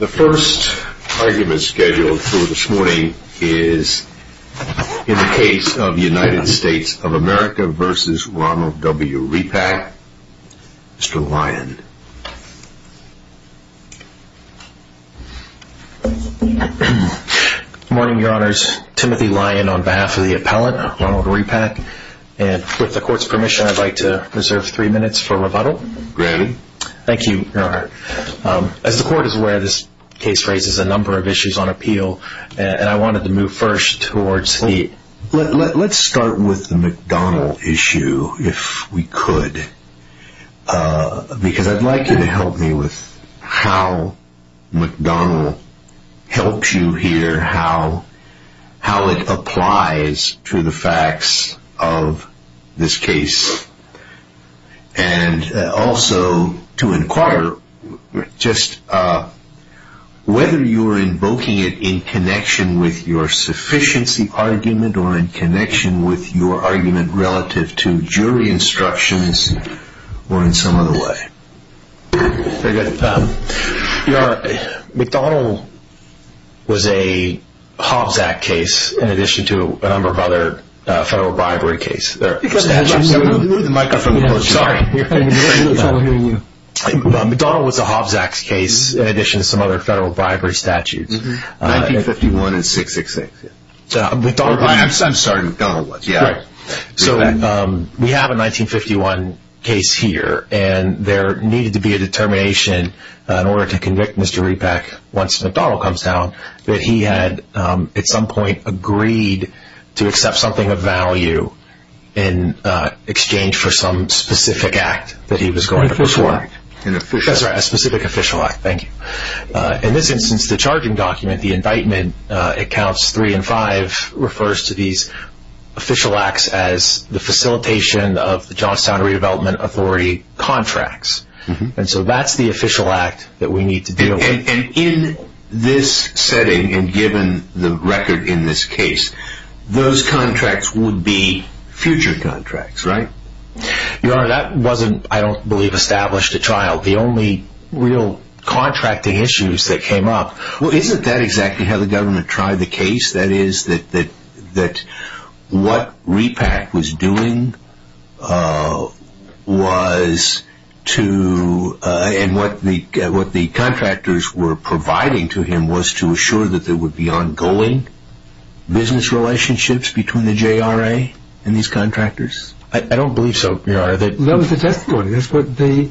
The first argument scheduled for this morning is in the case of United States of America v. Ronald W. Repak. Mr. Lyon. Good morning, your honors. Timothy Lyon on behalf of the appellate, Ronald Repak. And with the court's permission, I'd like to reserve three minutes for rebuttal. Granted. Thank you, your honor. As the court is aware, this case raises a number of issues on appeal, and I wanted to move first towards the... Let's start with the McDonald issue, if we could. Because I'd like you to help me with how McDonald helps you hear how it applies to the facts of this case. And also to inquire just whether you are invoking it in connection with your sufficiency argument or in connection with your argument relative to jury instructions or in some other way. McDonald was a Hobbs Act case in addition to a number of other federal bribery cases. McDonald was a Hobbs Act case in addition to some other federal bribery statutes. 1951 and 666. I'm sorry, McDonald was. We have a 1951 case here, and there needed to be a determination in order to convict Mr. Repak once McDonald comes down that he had at some point agreed to accept something of value in exchange for some specific act that he was going to perform. A specific official act, thank you. In this instance, the charging document, the indictment, accounts three and five, refers to these official acts as the facilitation of the Johnstown Redevelopment Authority contracts. And so that's the official act that we need to deal with. And in this setting, and given the record in this case, those I don't believe established a trial. The only real contracting issues that came up. Well, isn't that exactly how the government tried the case? That is, that what Repak was doing was to, and what the contractors were providing to him was to assure that there would be ongoing business relationships between the JRA and these contractors? I don't believe so, Your Honor. That was the testimony. That's what the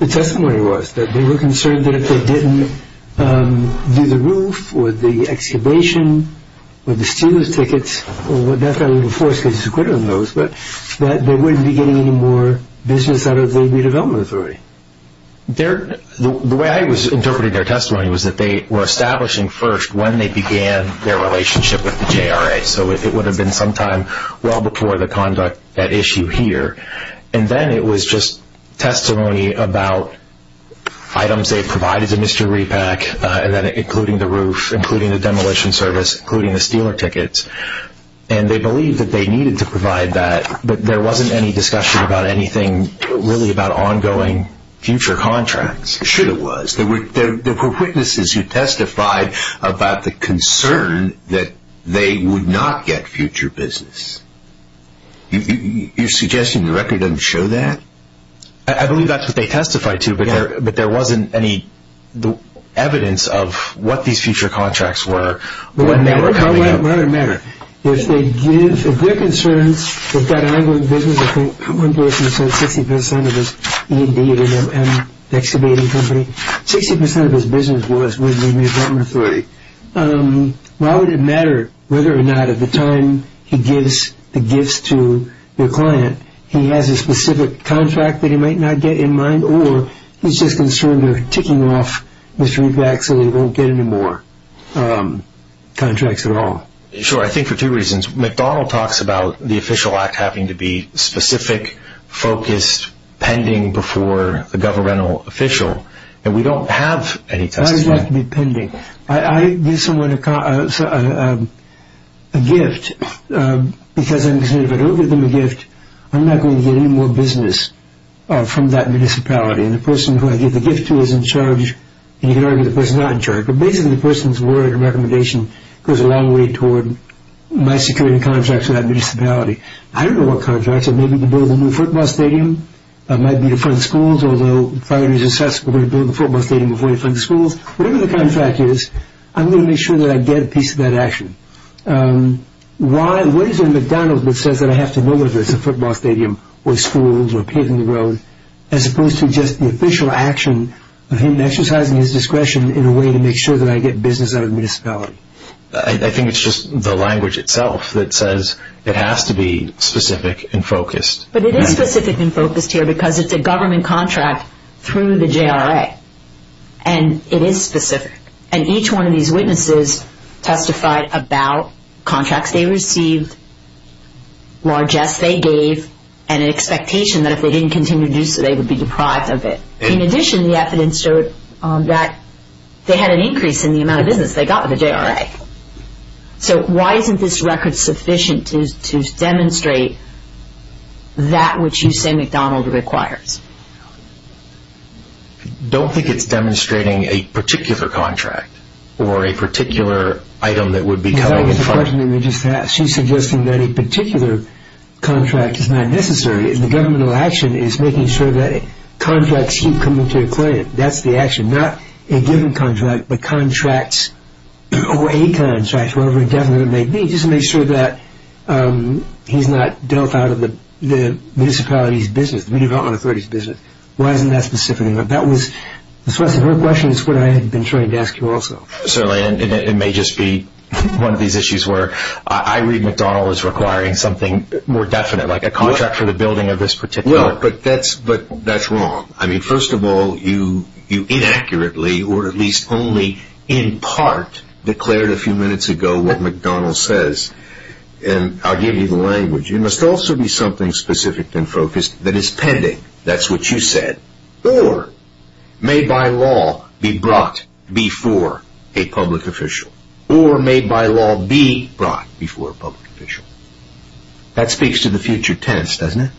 testimony was, that they were concerned that if they didn't do the roof, or the excavation, or the steelers tickets, or whatever force is acquitted on those, that they wouldn't be getting any more business out of the Redevelopment Authority. The way I was interpreting their testimony was that they were establishing first when they began their relationship with the JRA. So it would have been sometime well before the conduct at issue here. And then it was just testimony about items they provided to Mr. Repak, including the roof, including the demolition service, including the steeler tickets. And they believed that they needed to provide that, but there wasn't any discussion about anything really about ongoing future contracts. Should have was. There were witnesses who testified about the concern that they would not get future business. You're suggesting the record doesn't show that? I believe that's what they testified to, but there wasn't any evidence of what these future contracts were when they were coming up. It doesn't matter. If their concerns, they've got an ongoing business. I think one person said 60% of his E&D at an excavating company, 60% of his business was with the Redevelopment Authority. Why would it matter whether or not at the time he gives the gifts to the client, he has a specific contract that he might not get in mind, or he's just concerned they're ticking off Mr. Repak so they won't get any more contracts at all? Sure. I think for two reasons. McDonnell talks about the Official Act having to be specific, focused, pending before the governmental official, and we don't have any testimony. Why does it have to be pending? I give someone a gift because I'm saying if I don't give them a gift, I'm not going to get any more business from that municipality. And the person who I give the gift to is in charge, and you can argue the person's not in charge, but basically the person's recommendation goes a long way toward my securing contracts with that municipality. I don't know what contracts, maybe to build a new football stadium, maybe to fund schools, although if I'm going to build a football stadium before I fund schools, whatever the contract is, I'm going to make sure I get a piece of that action. What is it in McDonnell's that says I have to know if it's a football stadium, or schools, or paving the road, as opposed to just the official action of him exercising his responsibility? I think it's just the language itself that says it has to be specific and focused. But it is specific and focused here because it's a government contract through the JRA, and it is specific. And each one of these witnesses testified about contracts they received, largesse they gave, and an expectation that if they didn't continue to do so they would be deprived of it. In addition, the evidence showed that they had an increase in the amount of business they got with the JRA. So why isn't this record sufficient to demonstrate that which you say McDonnell's requires? Don't think it's demonstrating a particular contract or a particular item that would be covered in funds. That was the question that we just asked. She's suggesting that a particular contract is not necessary. The governmental action is making sure that contracts keep coming to a claim. That's the action. Not a given contract, but contracts, or a contract, whatever indefinite it may be, just to make sure that he's not dealt out of the municipality's business, the redevelopment authority's business. Why isn't that specific enough? That was her question. It's what I had been trying to ask you also. Certainly, and it may just be one of these issues where I read McDonnell is requiring something more definite, like a contract for the building of this particular... But that's wrong. First of all, you inaccurately, or at least only in part, declared a few minutes ago what McDonnell says, and I'll give you the language. It must also be something specific and focused that is pending, that's what you said, or may by law be brought before a public official, or may by law be brought before a public official. That speaks to the future tense, doesn't it?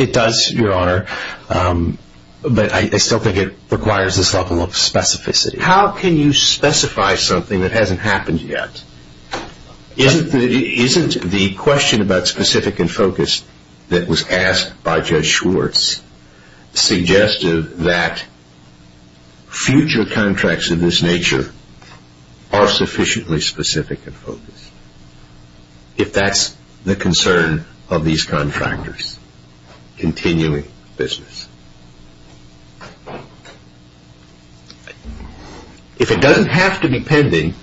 It does, Your Honor, but I still think it requires this level of specificity. How can you specify something that hasn't happened yet? Isn't the question about specific and focus that was asked by Judge Schwartz suggestive that future contracts of this nature are sufficiently specific and focused? If that's the concern of these contractors, continuing business. If it doesn't have to be pending,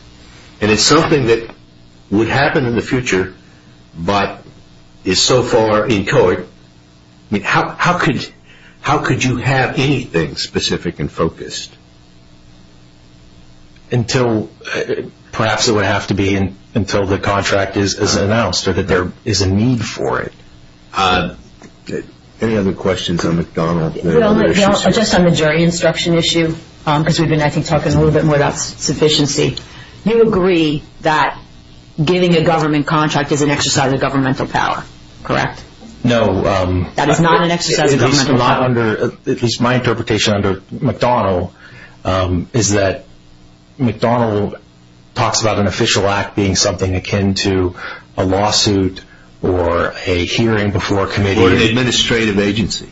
and it's something that would happen in the future, but is so far in court, how could you have anything specific and focused? Until, perhaps it would have to be until the contract is announced, or that there is a need for it. Any other questions on McDonnell? Well, just on the jury instruction issue, because we've been, I think, talking a little bit more about sufficiency, you agree that getting a government contract is an exercise of governmental power, correct? No. That is not an exercise of governmental power. At least my interpretation under McDonnell is that McDonnell talks about an official act being something akin to a lawsuit or a hearing before a committee. Or an administrative agency.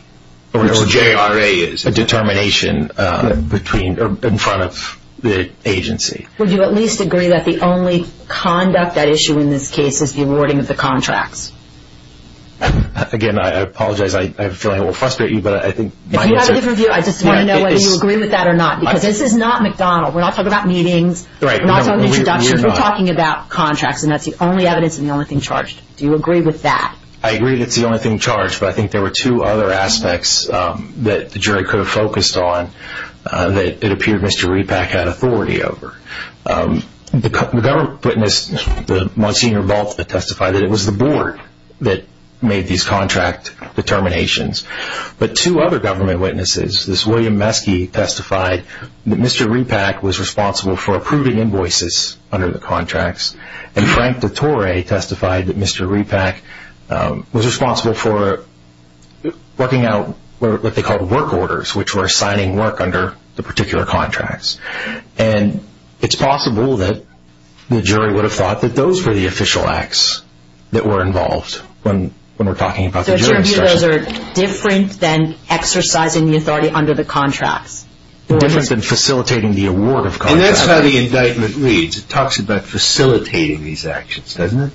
Or JRA is. A determination in front of the agency. Would you at least agree that the only conduct at issue in this case is the awarding of the contracts? Again, I apologize. I have a feeling it will frustrate you, but I think my answer... If you have a different view, I just want to know whether you agree with that or not. Because this is not McDonnell. We're not talking about meetings. We're not talking about introductions. We're talking about contracts. And that's the only evidence and the only thing charged. Do you agree with that? I agree that it's the only thing charged, but I think there were two other aspects that the jury could have focused on that it appeared Mr. Repack had authority over. The government witnessed the Monsignor vault that testified that it was the board. That made these contract determinations. But two other government witnesses, this William Meske testified that Mr. Repack was responsible for approving invoices under the contracts. And Frank DeTore testified that Mr. Repack was responsible for working out what they called work orders, which were signing work under the particular contracts. And it's possible that the jury would have thought that those were the official acts that were involved when we're talking about the jury. Those are different than exercising the authority under the contracts. Different than facilitating the award of contracts. And that's how the indictment leads. It talks about facilitating these actions, doesn't it?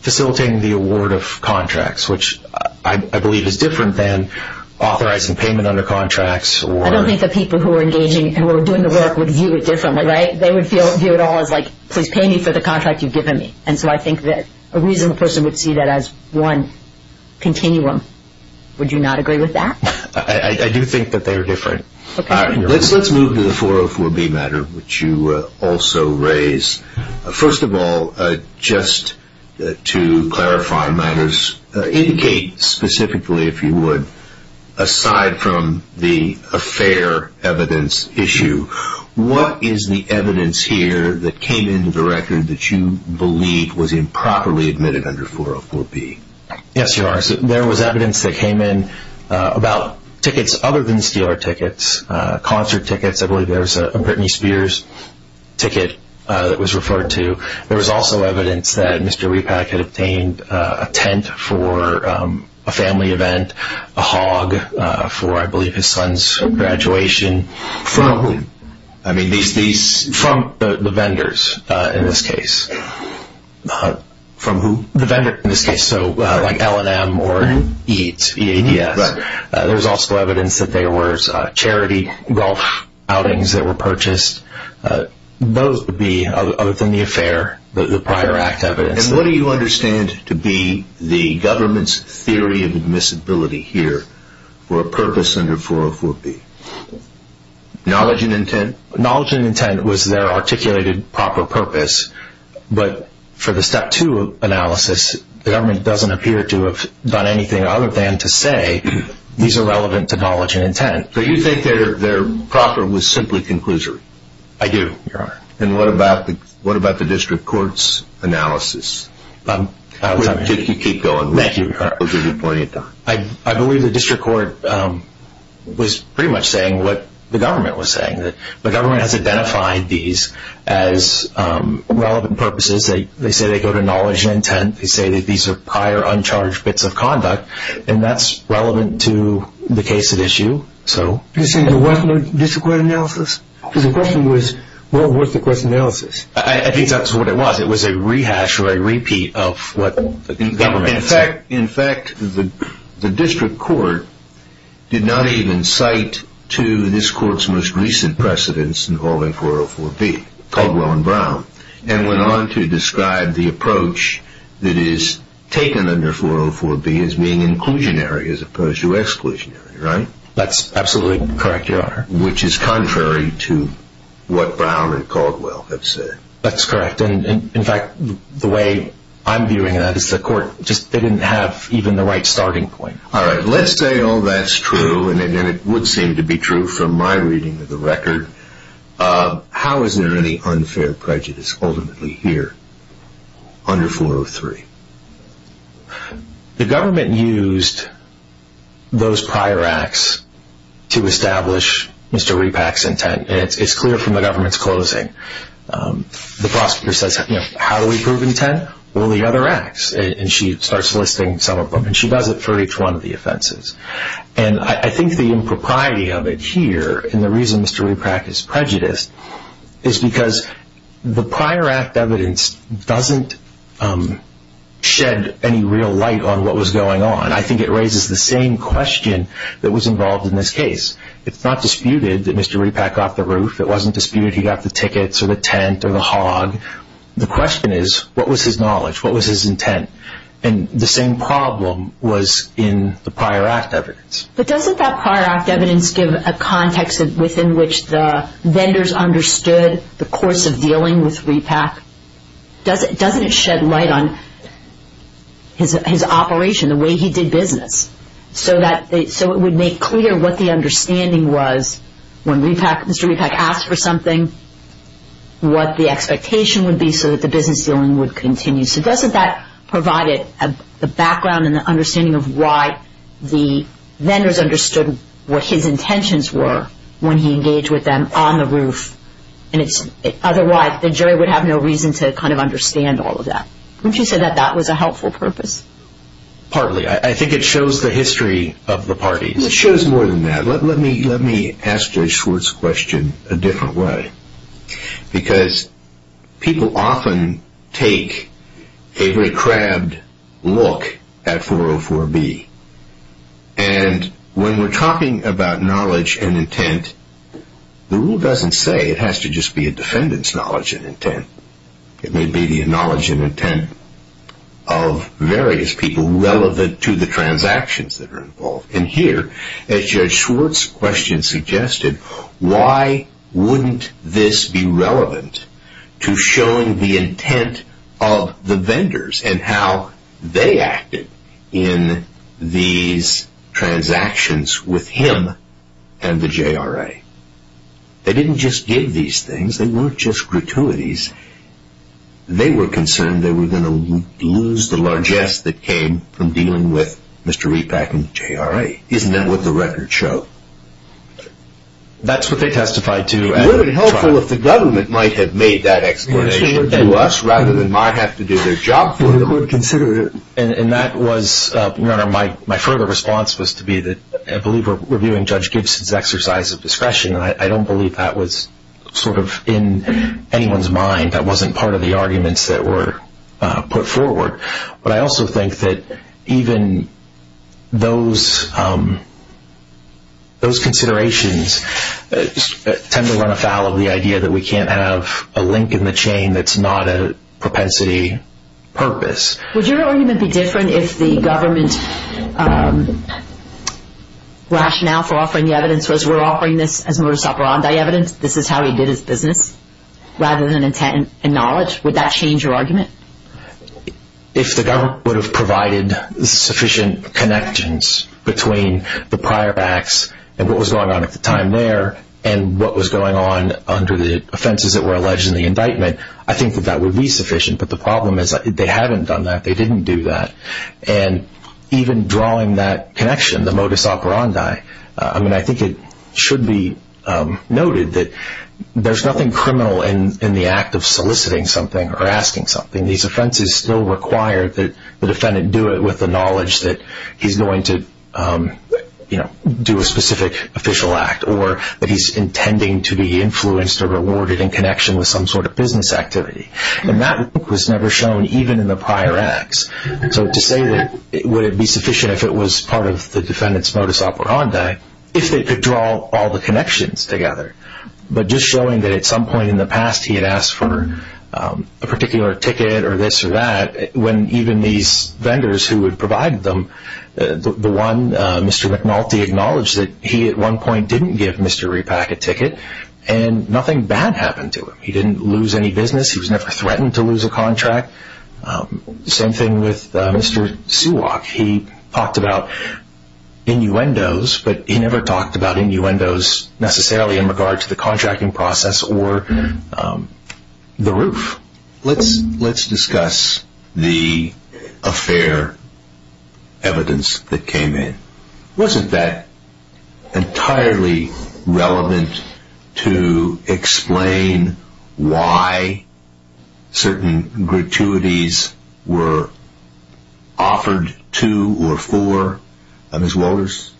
Facilitating the award of contracts, which I believe is different than authorizing payment under contracts. I don't think the people who are engaging and who are doing the work would view it differently, right? They would view it all as like, please pay me for the contract you've given me. And so I think that a reasonable person would see that as one continuum. Would you not agree with that? I do think that they're different. Let's move to the 404B matter, which you also raise. First of all, just to clarify matters, indicate specifically, if you would, aside from the affair evidence issue, what is the evidence here that came into the record that you believe was improperly admitted under 404B? Yes, there was evidence that came in about tickets other than Steeler tickets, concert tickets. I believe there was a Britney Spears ticket that was referred to. There was also evidence that Mr. Repack had obtained a tent for a family event, a hog for, I believe, his son's graduation. From who? I mean, from the vendors in this case. From who? The vendor in this case, so like L&M or EADS. There was also evidence that there were charity golf outings that were purchased. Those would be, other than the affair, the prior act evidence. And what do you understand to be the government's theory of admissibility here for a purpose under 404B? Knowledge and intent? Knowledge and intent was their articulated proper purpose. But for the Step 2 analysis, the government doesn't appear to have done anything other than to say these are relevant to knowledge and intent. So you think their proper was simply conclusory? I do, Your Honor. And what about the District Court's analysis? You keep going. Thank you, Your Honor. We'll give you plenty of time. I believe the District Court was pretty much saying what the government was saying. The government has identified these as relevant purposes. They say they go to knowledge and intent. They say that these are prior, uncharged bits of conduct. And that's relevant to the case at issue, so. You're saying it wasn't a District Court analysis? Because the question was, what was the question analysis? I think that's what it was. It was a rehash or a repeat of what the government said. In fact, the District Court did not even cite to this Court's most recent precedents involving 404B, Caldwell and Brown, and went on to describe the approach that is taken under 404B as being inclusionary as opposed to exclusionary, right? That's absolutely correct, Your Honor. Which is contrary to what Brown and Caldwell have said. That's correct. In fact, the way I'm viewing that is the Court just didn't have even the right starting point. All right. Let's say all that's true, and it would seem to be true from my reading of the record. How is there any unfair prejudice ultimately here under 403? The government used those prior acts to establish Mr. Repack's intent. And it's clear from the government's closing. The prosecutor says, how do we prove intent? Well, the other acts. And she starts listing some of them. And she does it for each one of the offenses. And I think the impropriety of it here, and the reason Mr. Repack is prejudiced, is because the prior act evidence doesn't shed any real light on what was going on. I think it raises the same question that was involved in this case. It's not disputed that Mr. Repack got the roof. It wasn't disputed he got the tickets, or the tent, or the hog. The question is, what was his knowledge? What was his intent? And the same problem was in the prior act evidence. But doesn't that prior act evidence give a context within which the vendors understood the course of dealing with Repack? Doesn't it shed light on his operation, the way he did business, so it would make clear what the understanding was when Mr. Repack asked for something, what the expectation would be so that the business dealing would continue? So doesn't that provide the background and the understanding of why the vendors understood what his intentions were when he engaged with them on the roof? And otherwise, the jury would have no reason to understand all of that. Wouldn't you say that that was a helpful purpose? Partly. I think it shows the history of the parties. It shows more than that. Let me ask Judge Schwartz's question a different way. Because people often take a very crabbed look at 404B. And when we're talking about knowledge and intent, the rule doesn't say it has to just be a defendant's knowledge and intent. It may be the knowledge and intent of various people relevant to the transactions that are involved. And here, as Judge Schwartz's question suggested, why wouldn't this be relevant to showing the intent of the vendors and how they acted in these transactions with him and the JRA? They didn't just give these things. They weren't just gratuities. They were concerned they were going to lose the largesse that came from dealing with Mr. Repack and the JRA. Isn't that what the records show? That's what they testified to. Would it have been helpful if the government might have made that explanation to us rather than my have to do their job for them? We could consider it. And that was, Your Honor, my further response was to be that I believe we're reviewing Judge Gibson's exercise of discretion. I don't believe that was sort of in anyone's mind. That wasn't part of the arguments that were put forward. But I also think that even those considerations tend to run afoul of the idea that we can't have a link in the chain that's not a propensity purpose. Would your argument be different if the government rationale for offering the evidence was we're evidence, this is how he did his business rather than intent and knowledge? Would that change your argument? If the government would have provided sufficient connections between the prior acts and what was going on at the time there and what was going on under the offenses that were alleged in the indictment, I think that that would be sufficient. But the problem is they haven't done that. They didn't do that. And even drawing that connection, the modus operandi, I mean, I think it should be noted that there's nothing criminal in the act of soliciting something or asking something. These offenses still require that the defendant do it with the knowledge that he's going to do a specific official act or that he's intending to be influenced or rewarded in connection with some sort of business activity. And that was never shown even in the prior acts. So to say that would it be sufficient if it was part of the defendant's modus operandi if they could draw all the connections together? But just showing that at some point in the past he had asked for a particular ticket or this or that when even these vendors who had provided them, the one, Mr. McNulty acknowledged that he at one point didn't give Mr. Repack a ticket and nothing bad happened to him. He didn't lose any business. He was never threatened to lose a contract. The same thing with Mr. Seawalk. He talked about innuendos, but he never talked about innuendos necessarily in regard to the contracting process or the roof. Let's discuss the affair evidence that came in. Wasn't that entirely relevant to explain why certain gratuities were offered to or for Ms. Walters?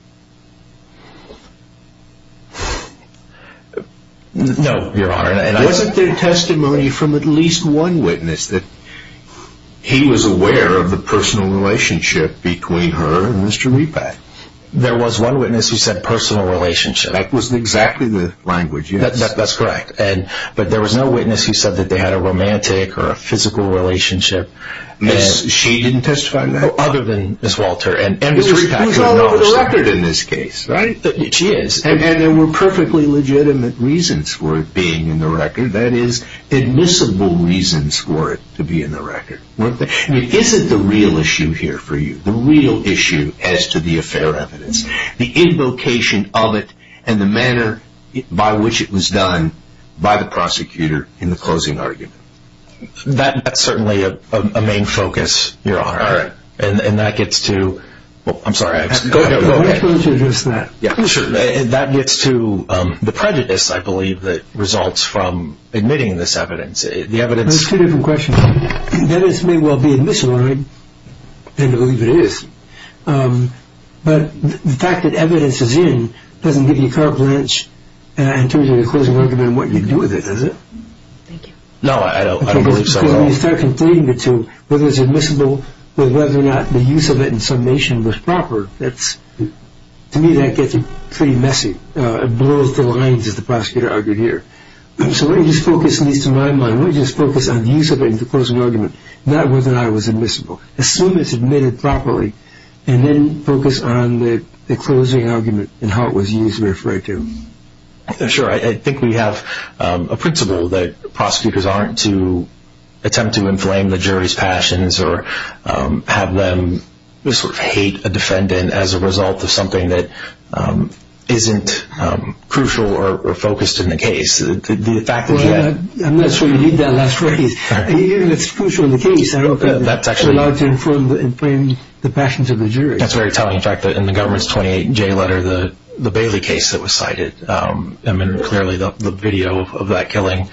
No, Your Honor. And wasn't there testimony from at least one witness that he was aware of the personal relationship between her and Mr. Repack? There was one witness who said personal relationship. That was exactly the language, yes. That's correct. But there was no witness who said that they had a romantic or a physical relationship. She didn't testify to that? Other than Ms. Walter. It was all over the record in this case, right? She is. And there were perfectly legitimate reasons for it being in the record. That is admissible reasons for it to be in the record. Is it the real issue here for you? The real issue as to the affair evidence? The invocation of it and the manner by which it was done by the prosecutor in the closing argument? That's certainly a main focus, Your Honor. All right. And that gets to the prejudice, I believe, that results from admitting this evidence. There's two different questions. That evidence may well be admissible, I tend to believe it is. But the fact that evidence is in doesn't give you carte blanche in terms of the closing argument and what you do with it, does it? Thank you. No, I don't believe so, Your Honor. When you start conflating the two, whether it's admissible or whether or not the use of it in summation was proper, to me that gets pretty messy. It blows the lines, as the prosecutor argued here. So let me just focus, at least in my mind, let me just focus on the use of it in the closing argument. Not whether or not it was admissible. Assume it's admitted properly and then focus on the closing argument and how it was used to refer it to. Sure. I think we have a principle that prosecutors aren't to attempt to inflame the jury's passions or have them sort of hate a defendant as a result of something that isn't crucial or focused in the case. The fact is that... I'm not sure you need that last phrase. It's crucial in the case. I don't think it's allowed to inflame the passions of the jury. That's very telling. In fact, in the government's 28-J letter, the Bailey case that was cited, I mean, clearly the video of that killing.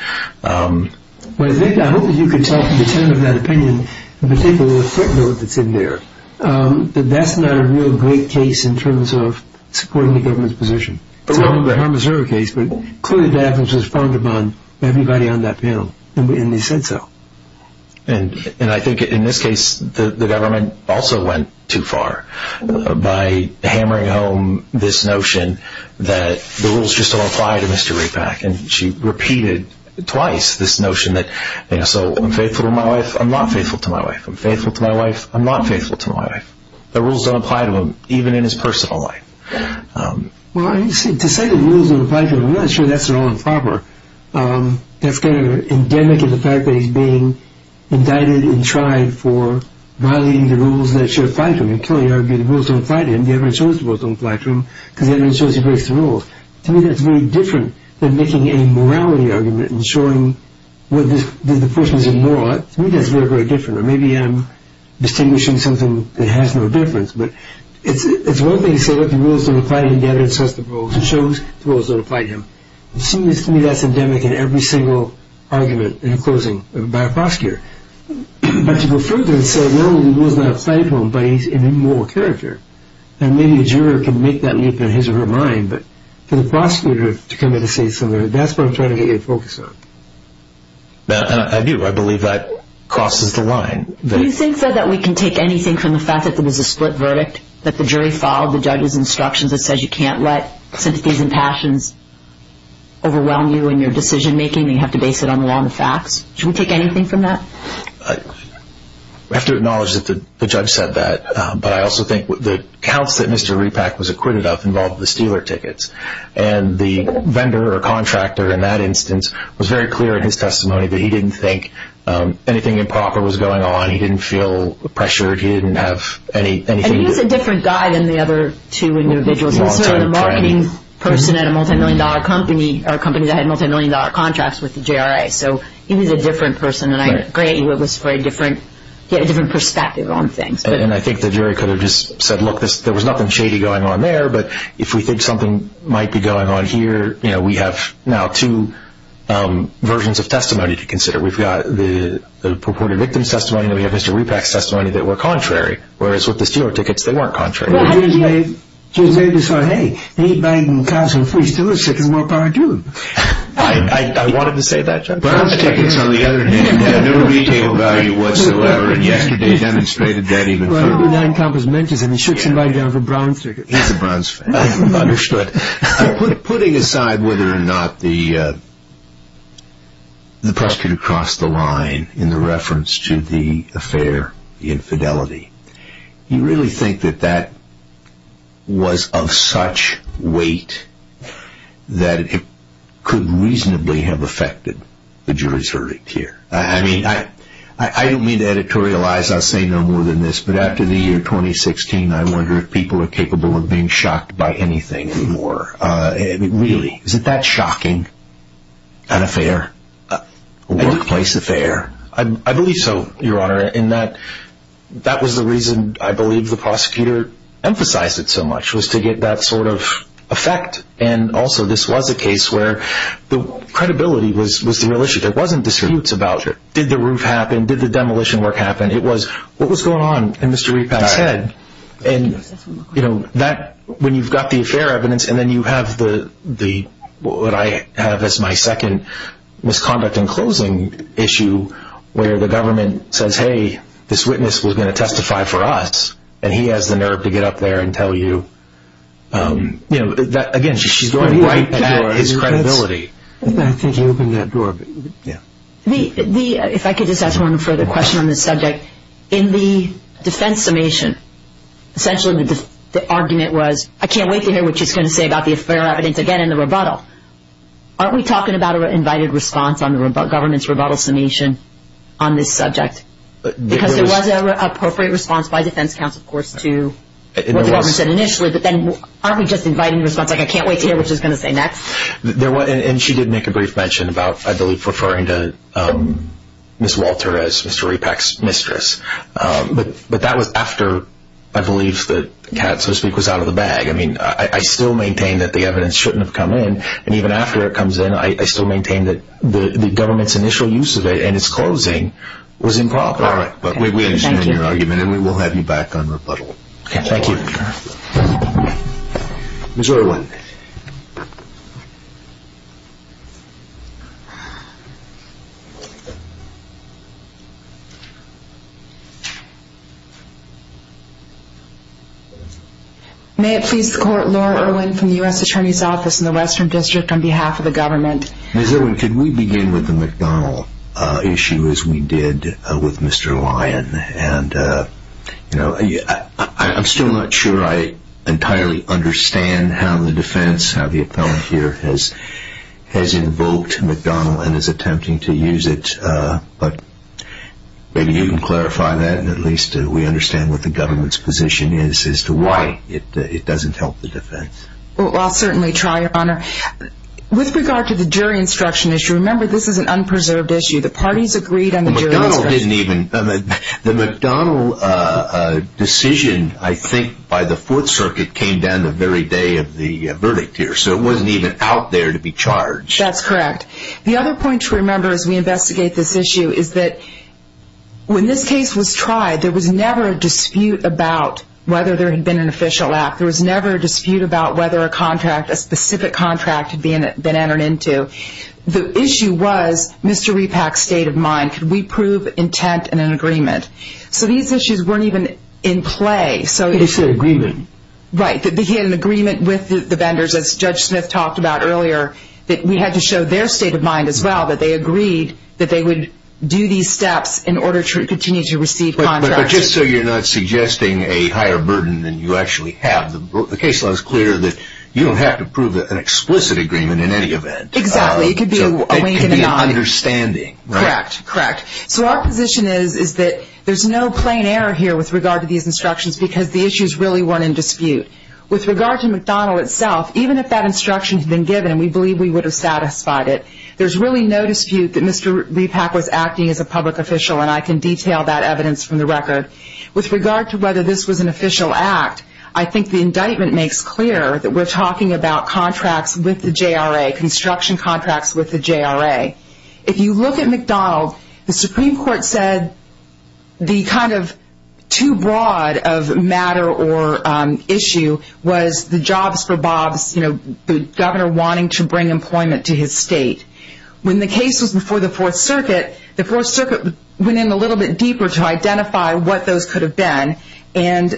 Well, I think, I hope that you can tell from the tone of that opinion, in particular the footnote that's in there, that that's not a real great case in terms of supporting the government's position. It's not a harm and serve case, but clearly Davenport was frowned upon by everybody on that panel, and they said so. And I think in this case, the government also went too far by hammering home this notion that the rules just don't apply to Mr. Rapak. And she repeated twice this notion that, you know, so I'm faithful to my wife. I'm not faithful to my wife. I'm faithful to my wife. I'm not faithful to my wife. The rules don't apply to him, even in his personal life. Well, to say the rules don't apply to him, I'm not sure that's their own proper. That's kind of endemic in the fact that he's being indicted and tried for violating the rules that should apply to him. And clearly, the rules don't apply to him. The evidence shows the rules don't apply to him, because the evidence shows he breaks the rules. To me, that's very different than making a morality argument and showing that the portions are not. To me, that's very, very different. Or maybe I'm distinguishing something that has no difference. But it's one thing to say that the rules don't apply to him. The evidence says the rules. It shows the rules don't apply to him. To me, that's endemic in every single argument in a closing by a prosecutor. But to go further and say, no, the rules don't apply to him, but he's an immoral character. And maybe a juror can make that leap in his or her mind. But for the prosecutor to come in and say something, that's what I'm trying to get your focus on. I do. I believe that crosses the line. You said that we can take anything from the fact that there was a split verdict, that the jury followed the judge's instructions. It says you can't let sympathies and passions overwhelm you in your decision making. You have to base it on the law and the facts. Should we take anything from that? We have to acknowledge that the judge said that. But I also think the counts that Mr. Repack was acquitted of involved the stealer tickets. And the vendor or contractor in that instance was very clear in his testimony that he didn't think anything improper was going on. He didn't feel pressured. He didn't have anything. He was a different guy than the other two individuals. He was a marketing person at a multi-million dollar company, or a company that had multi-million dollar contracts with the JRA. So he was a different person. And I agree, he had a different perspective on things. And I think the jury could have just said, look, there was nothing shady going on there. But if we think something might be going on here, we have now two versions of testimony to consider. We've got the purported victim's testimony, and we have Mr. Repack's testimony that were contrary. Whereas with the stealer tickets, they weren't contrary. Well, he was made to say, hey, they ain't buying council free stealer tickets. What part of you? I wanted to say that, Judge. Brown's tickets on the other hand have no retail value whatsoever. And yesterday demonstrated that even further. Well, he did not encompass mentions. And he shook somebody down for Brown's tickets. He's a Brown's fan. Understood. Putting aside whether or not the prosecutor crossed the line in the reference to the affair, the infidelity, you really think that that was of such weight that it could reasonably have affected the jury's verdict here? I mean, I don't mean to editorialize. I'll say no more than this. But after the year 2016, I wonder if people are capable of being shocked by anything anymore. Really. Is it that shocking? An affair? A workplace affair? I believe so, Your Honor. And that was the reason I believe the prosecutor emphasized it so much, was to get that sort of effect. And also, this was a case where the credibility was the real issue. There wasn't disputes about, did the roof happen? Did the demolition work happen? It was, what was going on in Mr. Repat's head? And when you've got the affair evidence and then you have what I have as my second misconduct in closing issue, where the government says, hey, this witness was going to testify for us, and he has the nerve to get up there and tell you, again, she's going right at his credibility. I think you opened that door. If I could just ask one further question on this subject, in the defense summation, essentially the argument was, I can't wait to hear what she's going to say about the affair evidence again in the rebuttal. Aren't we talking about an invited response on the government's rebuttal summation on this subject? Because there was an appropriate response by defense counsel, of course, to what the government said initially. But then, aren't we just inviting the response, like, I can't wait to hear what she's going to say next? And she did make a brief mention about, I believe, referring to Ms. Walter as Mr. Repat's mistress. But that was after, I believe, the cat, so to speak, was out of the bag. I still maintain that the evidence shouldn't have come in. And even after it comes in, I still maintain that the government's initial use of it, and its closing, was improper. All right, but we understand your argument, and we will have you back on rebuttal. Okay, thank you. Ms. Irwin. May it please the court, Laura Irwin from the U.S. Attorney's Office in the Western District on behalf of the government. Ms. Irwin, could we begin with the McDonald issue, as we did with Mr. Lyon? And, you know, I'm still not sure I entirely understand how the judge is going to do that. can. How the appellate here has invoked McDonald and is attempting to use it. But maybe you can clarify that, and at least we understand what the government's position is as to why it doesn't help the defense. Well, I'll certainly try, Your Honor. With regard to the jury instruction issue, remember this is an unpreserved issue. The parties agreed on the jury instruction. The McDonald didn't even, the McDonald decision, I think, by the Fourth Circuit came down the very day of the verdict here. So it wasn't even out there to be charged. That's correct. The other point to remember as we investigate this issue is that when this case was tried, there was never a dispute about whether there had been an official act. There was never a dispute about whether a contract, a specific contract had been entered into. The issue was Mr. Repack's state of mind. Could we prove intent and an agreement? So these issues weren't even in play. It's an agreement. Right, that he had an agreement with the vendors, as Judge Smith talked about earlier, that we had to show their state of mind as well, that they agreed that they would do these steps in order to continue to receive contracts. But just so you're not suggesting a higher burden than you actually have, the case law is clear that you don't have to prove an explicit agreement in any event. Exactly. It could be a wink and a nod. It could be understanding. Correct. Correct. So our position is that there's no plain error here with regard to these instructions because the issues really weren't in dispute. With regard to McDonald itself, even if that instruction had been given, we believe we would have satisfied it. There's really no dispute that Mr. Repack was acting as a public official and I can detail that evidence from the record. With regard to whether this was an official act, I think the indictment makes clear that we're talking about contracts with the JRA, construction contracts with the JRA. If you look at McDonald, the Supreme Court said the kind of too broad of matter or issue was the jobs for Bob's, you know, the governor wanting to bring employment to his state. When the case was before the Fourth Circuit, the Fourth Circuit went in a little bit deeper to identify what those could have been and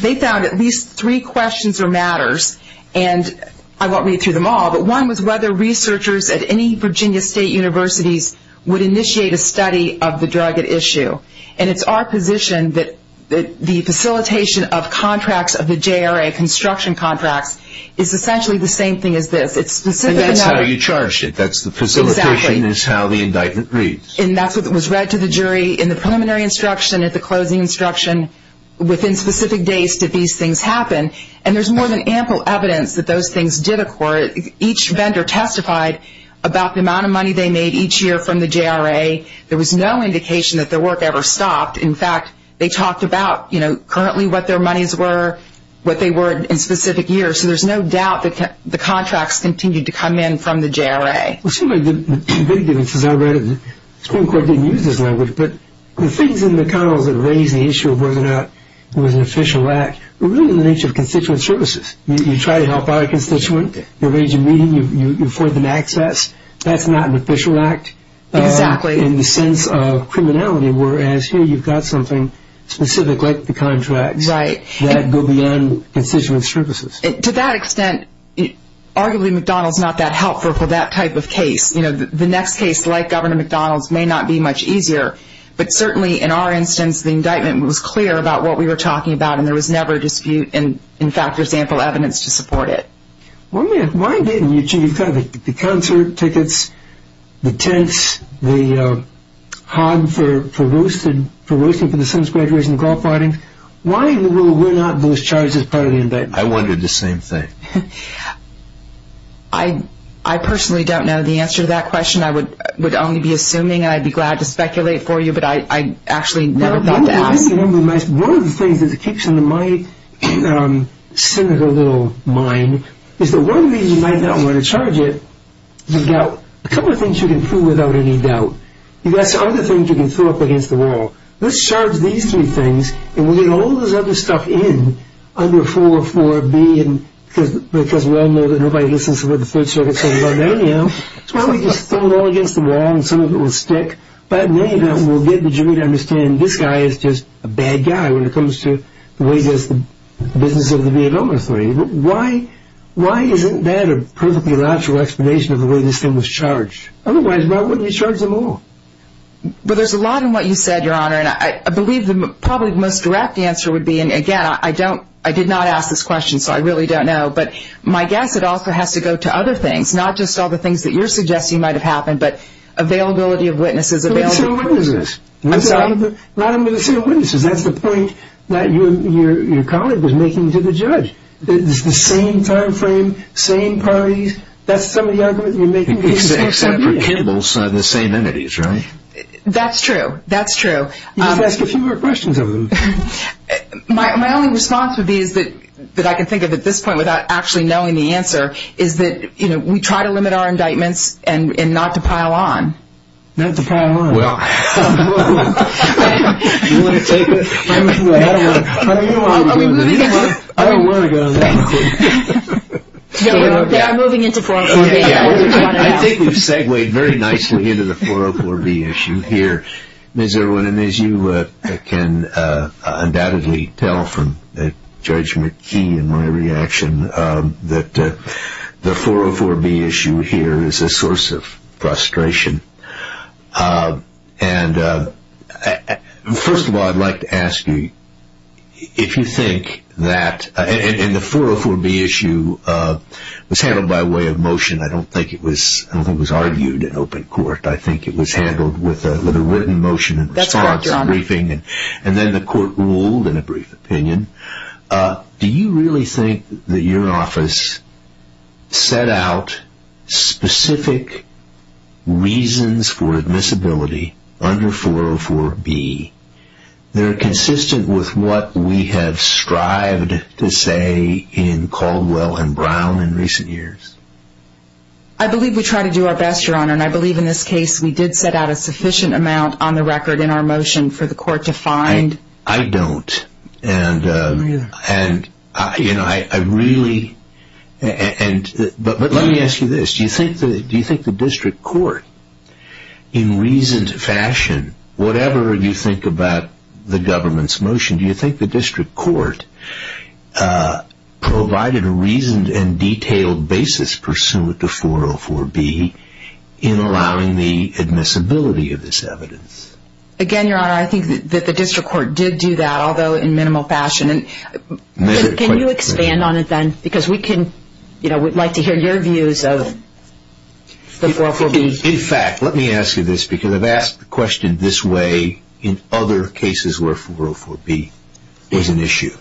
they found at least three questions or matters and I won't read through them all, but one was whether researchers at any Virginia state universities would initiate a study of the drug at issue and it's our position that the facilitation of contracts of the JRA, construction contracts, is essentially the same thing as this. It's specific. And that's how you charge it. That's the facilitation is how the indictment reads. And that's what was read to the jury in the preliminary instruction, at the closing instruction, within specific days did these things happen and there's more than ample evidence that those things did occur. Each vendor testified about the amount of money they made each year from the JRA. There was no indication that their work ever stopped. In fact, they talked about, you know, currently what their monies were, what they were in specific years. So there's no doubt that the contracts continued to come in from the JRA. It seems like the big difference is I read it and the Supreme Court didn't use this language, but the things in McDonald's that raise the issue of whether or not it was an official act were really in the nature of constituent services. You try to help our constituent. You arrange a meeting. You afford them access. That's not an official act in the sense of criminality, whereas here you've got something specific like the contracts that go beyond constituent services. To that extent, arguably McDonald's not that helpful for that type of case. You know, the next case, like Governor McDonald's, may not be much easier. But certainly in our instance, the indictment was clear about what we were talking about and there was never a dispute. In fact, there's ample evidence to support it. Why didn't you? You've got the concert tickets, the tents, the hog for roosting for the son's graduation, golf riding. Why were not those charges part of the indictment? I wondered the same thing. I personally don't know the answer to that question. I would only be assuming. I'd be glad to speculate for you, but I actually never thought to ask. One of the things that keeps in my cynical little mind is the one reason you might not want to charge it. You've got a couple of things you can prove without any doubt. You've got some other things you can throw up against the wall. Let's charge these three things and we'll get all this other stuff in under 4-4-B because we all know that nobody listens to what the 3rd Circuit says about A&M. Why don't we just throw it all against the wall and some of it will stick. But we'll get the jury to understand this guy is just a bad guy when it comes to the way he does the business of the Vietnam War. Why isn't that a perfectly logical explanation of the way this thing was charged? Otherwise, why wouldn't you charge them all? Well, there's a lot in what you said, Your Honor, and I believe probably the most direct answer would be, and again, I did not ask this question, so I really don't know, but my guess at all has to go to other things, not just all the things that you're suggesting might have happened, but availability of witnesses. Availability of witnesses? I'm sorry? Availability of witnesses. That's the point that your colleague was making to the judge. It's the same time frame, same parties. That's some of the arguments you're making. Except for Kimball's, they're the same entities, right? That's true. That's true. You should ask a few more questions of him. My only response would be, that I can think of at this point without actually knowing the answer, is that we try to limit our indictments and not to pile on. Not to pile on. Well, I don't know where to go with that. I think we've segued very nicely into the 404B issue here, Ms. Irwin, and as you can undoubtedly tell from Judge McKee and my reaction, that the 404B issue here is a source of frustration. First of all, I'd like to ask you, if you think that, and the 404B issue was handled by way of motion. I don't think it was argued in open court. I think it was handled with a written motion and response briefing. Then the court ruled in a brief opinion. Do you really think that your office set out specific reasons for admissibility under 404B? They're consistent with what we have strived to say in Caldwell and Brown in recent years. I believe we try to do our best, Your Honor, and I believe in this case we did set out a I don't. Let me ask you this. Do you think the district court, in reasoned fashion, whatever you think about the government's motion, do you think the district court provided a reasoned and detailed basis pursuant to 404B in allowing the admissibility of this evidence? Again, Your Honor, I think that the district court did do that, although in minimal fashion. Can you expand on it then? Because we'd like to hear your views of the 404B. In fact, let me ask you this, because I've asked the question this way in other cases where 404B is an issue.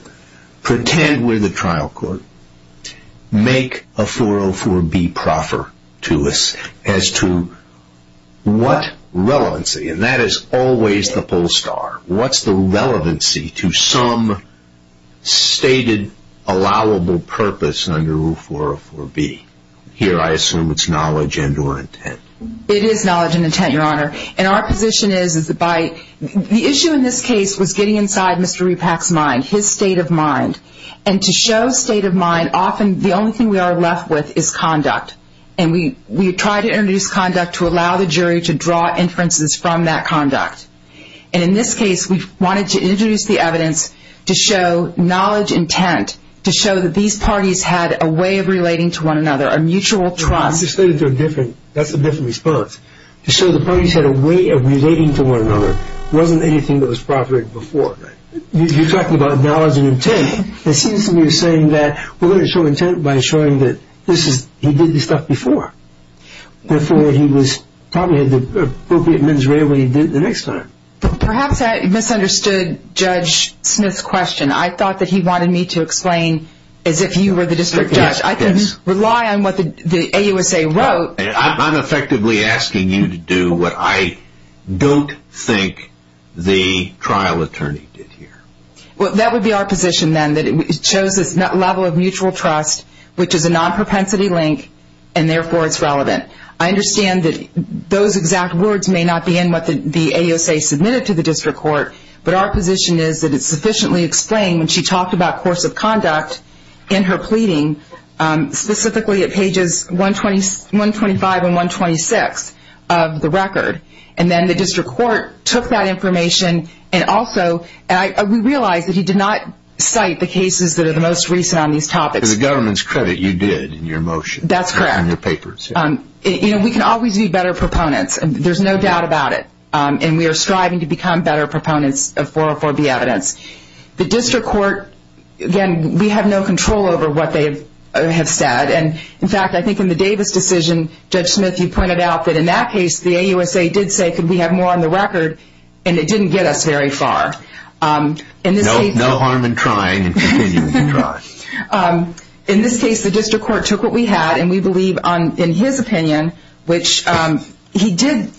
Pretend we're the trial court. Make a 404B proffer to us as to what relevancy, and that is always the bull star, what's the relevancy to some stated allowable purpose under rule 404B? Here I assume it's knowledge and or intent. It is knowledge and intent, Your Honor. And our position is that by the issue in this case was getting inside Mr. Repack's mind, his state of mind, and to show state of mind, often the only thing we are left with is conduct. And we try to introduce conduct to allow the jury to draw inferences from that conduct. And in this case, we wanted to introduce the evidence to show knowledge, intent, to show that these parties had a way of relating to one another, a mutual trust. That's a different response. To show the parties had a way of relating to one another wasn't anything that was proffered before. You're talking about knowledge and intent. It seems to me you're saying that we're going to show intent by showing that he did this stuff before, before he probably had the appropriate mens rea when he did it the next time. Perhaps I misunderstood Judge Smith's question. I thought that he wanted me to explain as if you were the district judge. I didn't rely on what the AUSA wrote. I'm effectively asking you to do what I don't think the trial attorney did here. Well, that would be our position then, that it shows this level of mutual trust, which is a non-propensity link, and therefore it's relevant. I understand that those exact words may not be in what the AUSA submitted to the district court, but our position is that it's sufficiently explained when she talked about course of conduct in her pleading, specifically at pages 125 and 126 of the record. And then the district court took that information and also, we realize that he did not cite the cases that are the most recent on these topics. To the government's credit, you did in your motion. That's correct. In your papers. We can always be better proponents. There's no doubt about it. We are striving to become better proponents of 404B evidence. The district court, again, we have no control over what they have said. And in fact, I think in the Davis decision, Judge Smith, you pointed out that in that case, the AUSA did say, could we have more on the record? And it didn't get us very far. No harm in trying and continuing to try. In this case, the district court took what we had, and we believe in his opinion, which he did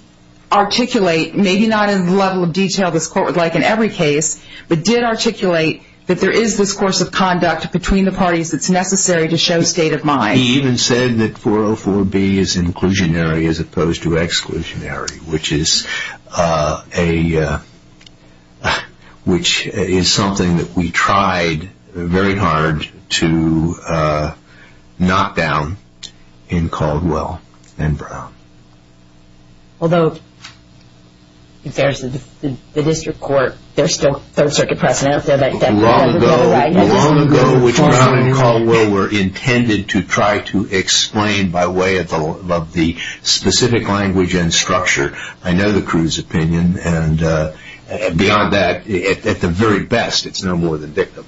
articulate, maybe not in the level of detail this court would like in every case, but did articulate that there is this course of conduct between the parties that's necessary to show state of mind. He even said that 404B is inclusionary as opposed to exclusionary, which is something that we tried very hard to knock down in Caldwell and Brown. Although, if there's the district court, there's still third circuit precedent out there. But long ago, which Brown and Caldwell were intended to try to explain by way of the specific language and structure, I know the crew's opinion. And beyond that, at the very best, it's no more than dictum.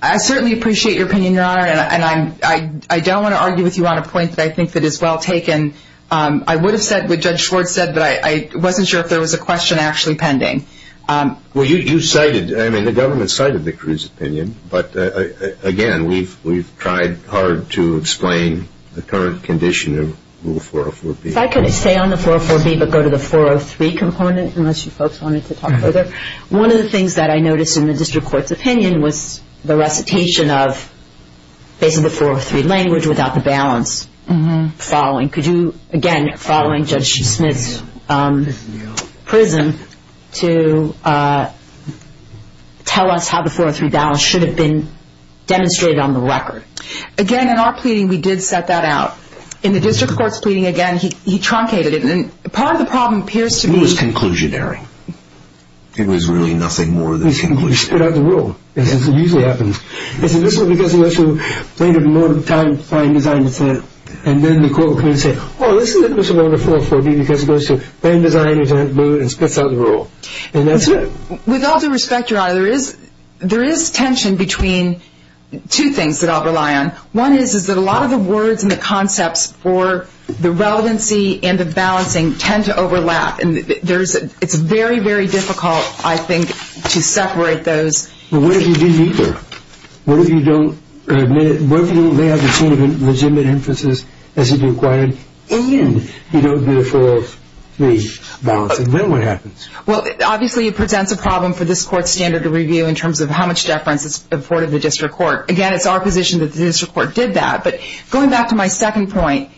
I certainly appreciate your opinion, Your Honor. And I don't want to argue with you on a point that I think that is well taken. I would have said what Judge Schwartz said, but I wasn't sure if there was a question actually pending. Well, you cited, I mean, the government cited the crew's opinion. But again, we've tried hard to explain the current condition of Rule 404B. If I could stay on the 404B, but go to the 403 component, unless you folks wanted to talk further. One of the things that I noticed in the district court's opinion was the recitation of basically the 403 language without the balance following. Could you, again, following Judge Smith's prism, to tell us how the 403 balance should have been demonstrated on the record? Again, in our pleading, we did set that out. In the district court's pleading, again, he truncated it. And part of the problem appears to be- It was conclusionary. It was really nothing more than conclusionary. Without the rule, as it usually happens. He said, this was because the issue played a more time-defying design. And then the court would come in and say, oh, this is the principle of the 404B, because it goes to plan, design, intent, mood, and spits out the rule. And that's it. With all due respect, Your Honor, there is tension between two things that I'll rely on. One is that a lot of the words and the concepts for the relevancy and the balancing tend to overlap. And it's very, very difficult, I think, to separate those. Well, what if you dig deeper? What if you don't- What if you don't have the same legitimate inferences as it required, and you don't do the 403 balancing? Then what happens? Well, obviously, it presents a problem for this court's standard of review in terms of how much deference is afforded the district court. Again, it's our position that the district court did that. But going back to my second point,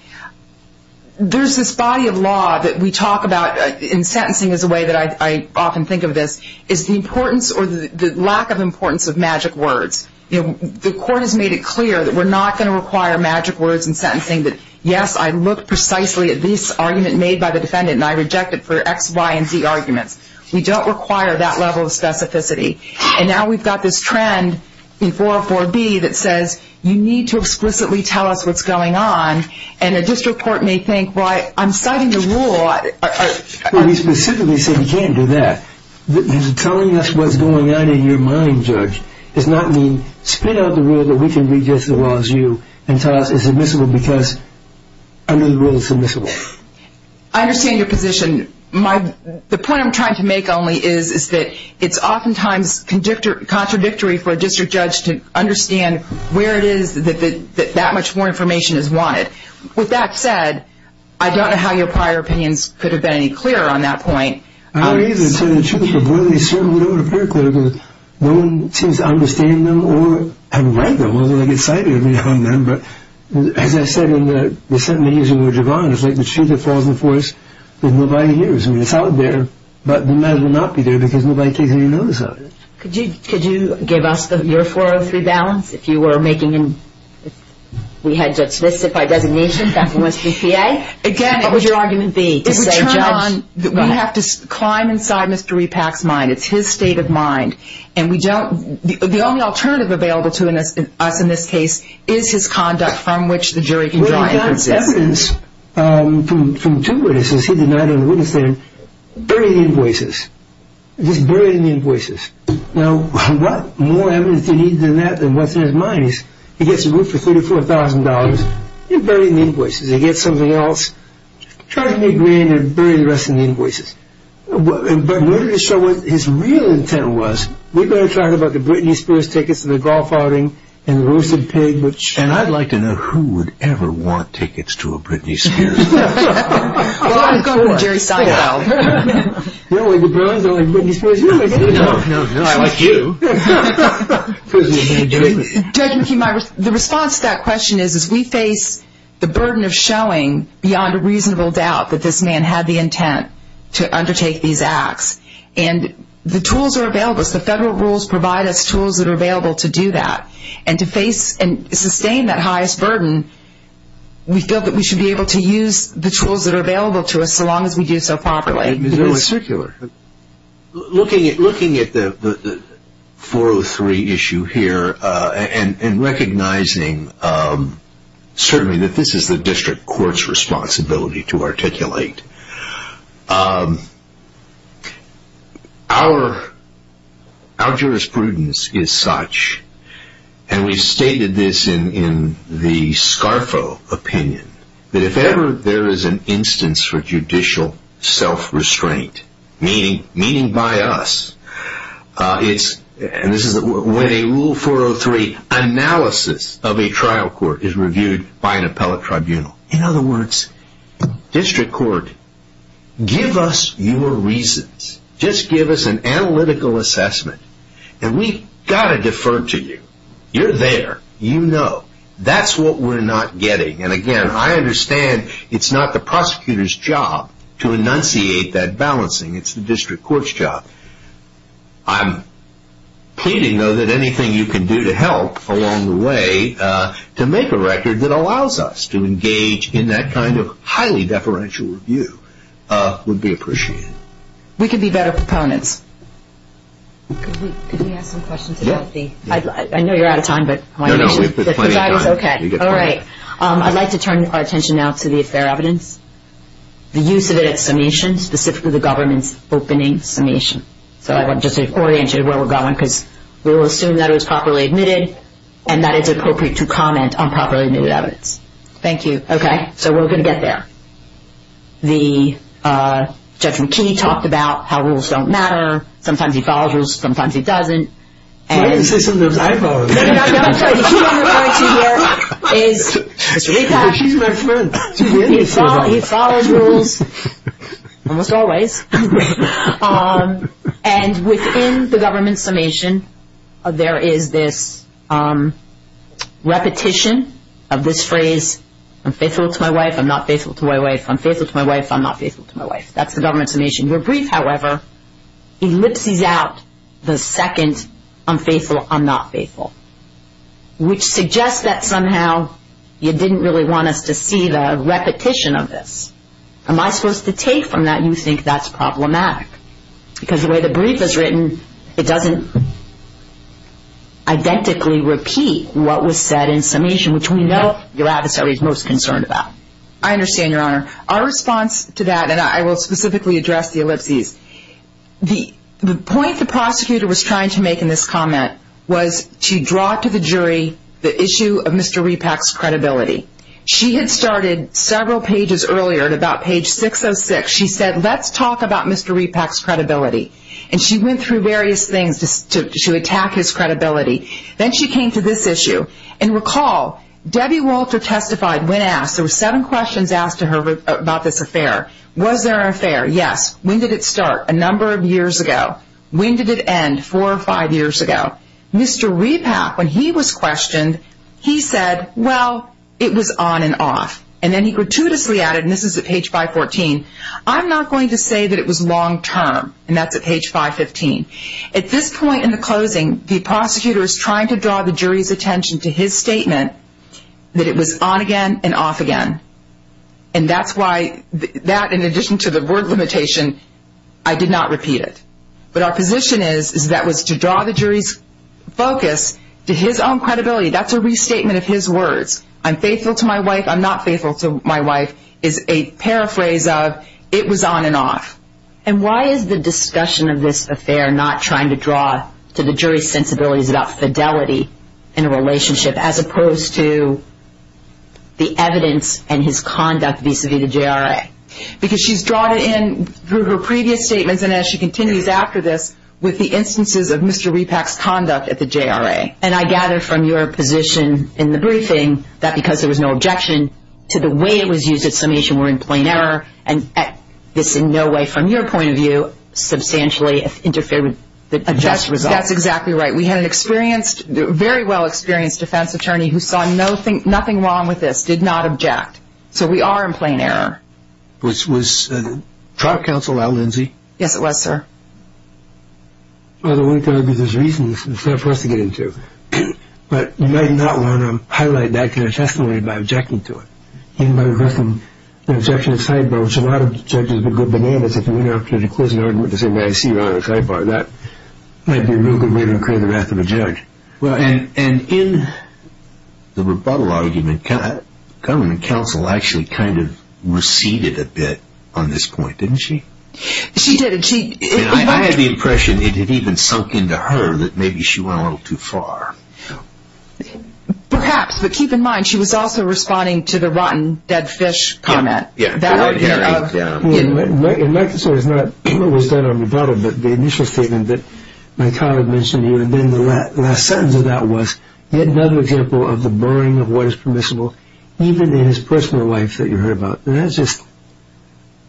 there's this body of law that we talk about in sentencing as a way that I often think of this, is the importance or the lack of importance of magic words. The court has made it clear that we're not going to require magic words in sentencing that, yes, I look precisely at this argument made by the defendant, and I reject it for X, Y, and Z arguments. We don't require that level of specificity. And now we've got this trend in 404B that says, you need to explicitly tell us what's going on. And a district court may think, well, I'm citing the rule. But we specifically say you can't do that. Telling us what's going on in your mind, Judge, does not mean spit out the rule that we can read just as well as you and tell us it's admissible because under the rule it's admissible. I understand your position. The point I'm trying to make only is that it's oftentimes contradictory for a district judge to understand where it is that that much more information is wanted. With that said, I don't know how your prior opinions could have been any clearer on that point. I don't either. To tell you the truth, I'm really certain we don't appear clear because no one seems to understand them or have read them, unless I get cited on them. But as I said in the sentencing in which you're going, it's like the tree that falls in the forest that nobody hears. I mean, it's out there, but it might as well not be there because nobody takes any notice of it. Could you give us your 403 balance? If you were making and we had to specify designation, that must be PA. Again, what would your argument be? We have to climb inside Mr. Repack's mind. It's his state of mind. And we don't, the only alternative available to us in this case is his conduct from which the jury can draw inferences. We got evidence from two witnesses. He denied any witness there. Bury the invoices. Just bury the invoices. Now, what more evidence do you need than that? And what's in his mind is he gets a roof for $34,000. You're burying the invoices. He gets something else. Try to make grand and bury the rest of the invoices. But in order to show what his real intent was, we've got to talk about the Britney Spears tickets to the golf outing and the roosted pig, which... And I'd like to know who would ever want tickets to a Britney Spears. Well, I'd go with Jerry Seinfeld. You don't like the Bruins? You don't like Britney Spears? You don't like any of them? No, no, no. I like you. Judge McKee, the response to that question is, is we face the burden of showing beyond a reasonable doubt that this man had the intent to undertake these acts. And the tools are available. The federal rules provide us tools that are available to do that. And to face and sustain that highest burden, we feel that we should be able to use the tools that are available to us so long as we do so properly. It's very circular. Looking at the 403 issue here and recognizing certainly that this is the district court's responsibility to articulate, our jurisprudence is such, and we've stated this in the Scarfo opinion, that if ever there is an instance for judicial self-restraint, meaning by us, and this is when a Rule 403 analysis of a trial court is reviewed by an appellate tribunal. In other words, district court, give us your reasons. Just give us an analytical assessment. And we've got to defer to you. You're there. You know. That's what we're not getting. And again, I understand it's not the prosecutor's job to enunciate that balancing. It's the district court's job. I'm pleading, though, that anything you can do to help along the way to make a record that allows us to engage in that kind of highly deferential review would be appreciated. We could be better proponents. Could we ask some questions about the... I know you're out of time, but... No, no, we have plenty of time. All right. I'd like to turn our attention now to the affair evidence. The use of it at summation, specifically the government's opening summation. So I want to just orient you to where we're going, because we'll assume that it was properly admitted and that it's appropriate to comment on properly admitted evidence. Thank you. Okay. So we're going to get there. The Judge McKee talked about how rules don't matter. Sometimes he follows rules. Sometimes he doesn't. I was going to say, sometimes I follow rules. No, no, no, I'm sorry. The key one we're going to hear is... She's my friend. He follows rules almost always. And within the government's summation, there is this repetition of this phrase, I'm faithful to my wife. I'm not faithful to my wife. I'm faithful to my wife. I'm not faithful to my wife. That's the government's summation. Your brief, however, ellipses out the second I'm faithful, I'm not faithful, which suggests that somehow you didn't really want us to see the repetition of this. Am I supposed to take from that? You think that's problematic because the way the brief is written, it doesn't identically repeat what was said in summation, which we know your adversary is most concerned about. I understand, Your Honor. Our response to that, and I will specifically address the ellipses. The point the prosecutor was trying to make in this comment was to draw to the jury the issue of Mr. Repak's credibility. She had started several pages earlier at about page 606. She said, let's talk about Mr. Repak's credibility. And she went through various things to attack his credibility. Then she came to this issue. And recall, Debbie Walter testified when asked. There were seven questions asked to her about this affair. Was there an affair? Yes. When did it start? A number of years ago. When did it end? Four or five years ago. Mr. Repak, when he was questioned, he said, well, it was on and off. And then he gratuitously added, and this is at page 514, I'm not going to say that it was long term. And that's at page 515. At this point in the closing, the prosecutor is trying to draw the jury's attention to his statement that it was on again and off again. And that's why that, in addition to the word limitation, I did not repeat it. But our position is that was to draw the jury's focus to his own credibility. That's a restatement of his words. I'm faithful to my wife. I'm not faithful to my wife is a paraphrase of it was on and off. And why is the discussion of this affair not trying to draw to the jury's sensibilities about fidelity in a relationship, as opposed to the evidence and his conduct vis-a-vis the JRA? Because she's drawn it in through her previous statements. And as she continues after this, with the instances of Mr. Repack's conduct at the JRA. And I gather from your position in the briefing that because there was no objection to the way it was used at summation, we're in plain error. And this in no way, from your point of view, substantially interfered with the just result. That's exactly right. We had an experienced, very well-experienced defense attorney who saw nothing, nothing wrong with this, did not object. So we are in plain error. Was trial counsel Al Lindsay? Yes, it was, sir. Well, the way to argue there's reasons, it's not for us to get into. But you might not want to highlight that kind of testimony by objecting to it. Even by reversing an objection to sidebar, which a lot of judges would go bananas if you went out to declose an argument to say, well, I see you're on the sidebar. That might be a real good way to incur the wrath of a judge. Well, and in the rebuttal argument, government counsel actually kind of receded a bit on this point, didn't she? She did. I had the impression it had even sunk into her that maybe she went a little too far. Perhaps. But keep in mind, she was also responding to the rotten dead fish comment. Yeah. And like I said, it was done on rebuttal. But the initial statement that my colleague mentioned to you, and then the last sentence of that was, yet another example of the burying of what is permissible, even in his personal life that you heard about. That's just,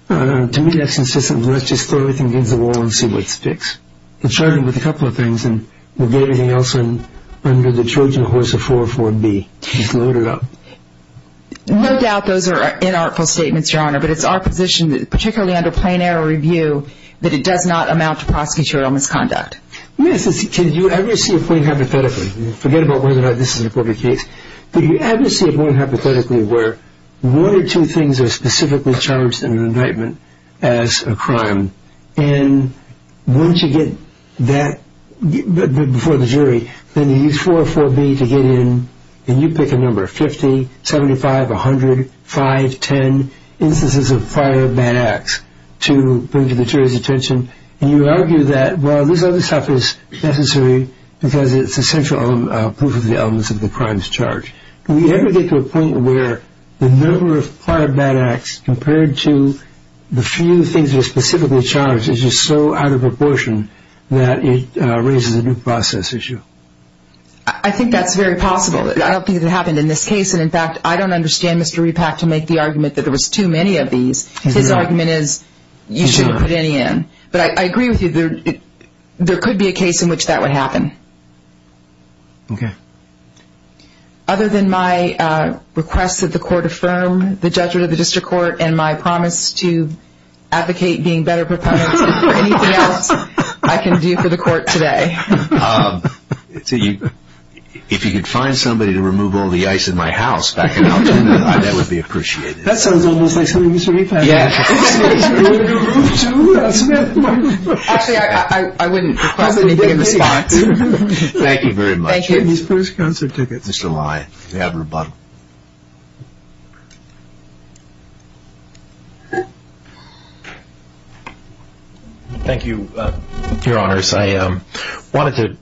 to me, that's insistent. Let's just throw everything against the wall and see what's fixed. It started with a couple of things, and we'll get everything else under the Trojan horse of 404B. Just load it up. No doubt those are inartful statements, Your Honor. But it's our position, particularly under plain error review, that it does not amount to prosecutorial misconduct. Yes. Can you ever see a point hypothetically? Forget about whether or not this is an appropriate case. But you ever see a point, hypothetically, where one or two things are specifically charged in an indictment as a crime? And once you get that before the jury, then you use 404B to get in, and you pick a number, 50, 75, 100, 5, 10 instances of prior bad acts to bring to the jury's attention. And you argue that, well, this other stuff is necessary because it's essential proof of the elements of the crimes charged. Can we ever get to a point where the number of prior bad acts compared to the few things that are specifically charged is just so out of proportion that it raises a new process issue? I think that's very possible. I don't think that happened in this case. And in fact, I don't understand Mr. Repak to make the argument that there was too many of these. His argument is you shouldn't put any in. But I agree with you. There could be a case in which that would happen. Okay. Other than my request that the court affirm the judgment of the district court and my promise to advocate being better proponents for anything else I can do for the court today. If you could find somebody to remove all the ice in my house back in Altona, that would be appreciated. That sounds almost like something Mr. Repak would have to say. Actually, I wouldn't request anything in the spot. Thank you very much. Thank you. Thank you, your honors. I wanted to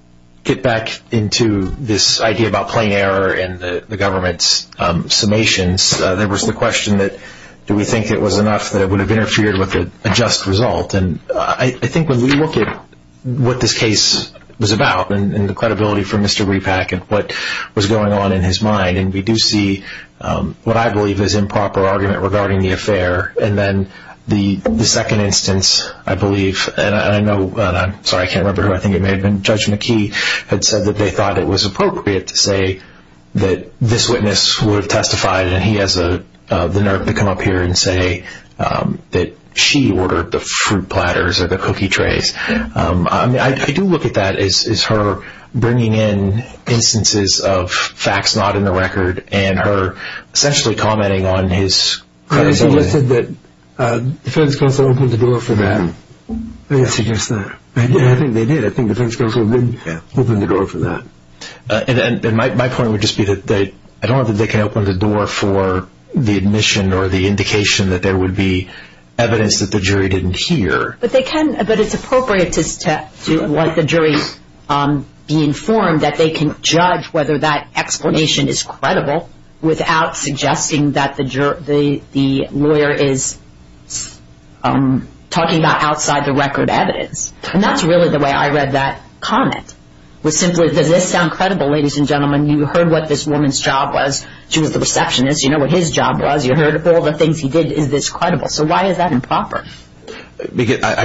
get back into this idea about plain error and the government's summations. There was the question that do we think it was enough that it would have interfered with a just result? And I think when we look at what this case was about and the credibility for Mr. Repak and what was going on in his mind, and we do see what I believe is improper argument regarding the affair. And then the second instance, I believe, and I know, and I'm sorry, I can't remember who I think it may have been. Judge McKee had said that they thought it was appropriate to say that this witness would have testified. And he has the nerve to come up here and say that she ordered the fruit platters or the cookie trays. I do look at that as her bringing in instances of facts not in the record and her essentially commenting on his credibility. I suggested that the defense counsel opened the door for that. I didn't suggest that. I think they did. I think the defense counsel did open the door for that. And my point would just be that I don't know they can open the door for the admission or the indication that there would be evidence that the jury didn't hear. But they can, but it's appropriate to let the jury be informed that they can judge whether that explanation is credible without suggesting that the lawyer is talking about outside the record evidence. And that's really the way I read that comment. Was simply, does this sound credible, ladies and gentlemen? You heard what this woman's job was. She was the receptionist. You know what his job was. You heard all the things he did. Is this credible? So why is that improper? I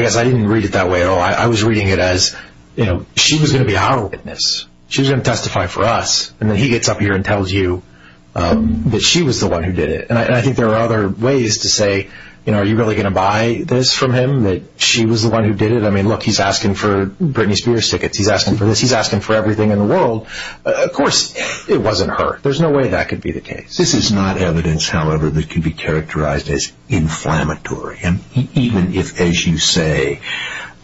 guess I didn't read it that way at all. I was reading it as, you know, she was going to be our witness. She was going to testify for us. And then he gets up here and tells you that she was the one who did it. And I think there are other ways to say, you know, are you really going to buy this from him? That she was the one who did it? I mean, look, he's asking for Britney Spears tickets. He's asking for this. He's asking for everything in the world. Of course, it wasn't her. There's no way that could be the case. This is not evidence, however, that can be characterized as inflammatory. And even if, as you say,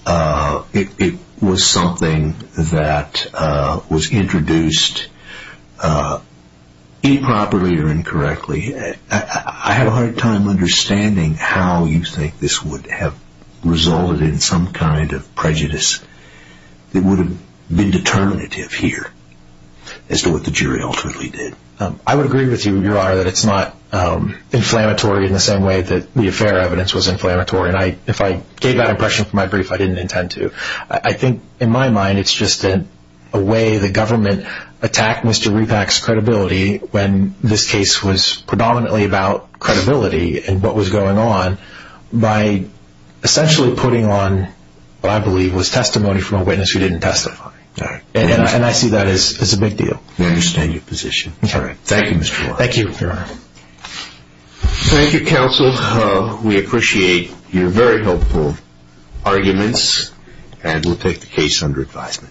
it was something that was introduced improperly or incorrectly, I have a hard time understanding how you think this would have resulted in some kind of prejudice that would have been determinative here. As to what the jury ultimately did. I would agree with you, Your Honor, that it's not inflammatory in the same way that the affair evidence was inflammatory. And if I gave that impression for my brief, I didn't intend to. I think, in my mind, it's just a way the government attacked Mr. Repak's credibility when this case was predominantly about credibility and what was going on by essentially putting on what I believe was testimony from a witness who didn't testify. And I see that as a big deal. We understand your position. Thank you, Mr. Warren. Thank you, Your Honor. Thank you, counsel. We appreciate your very helpful arguments and we'll take the case under advisement.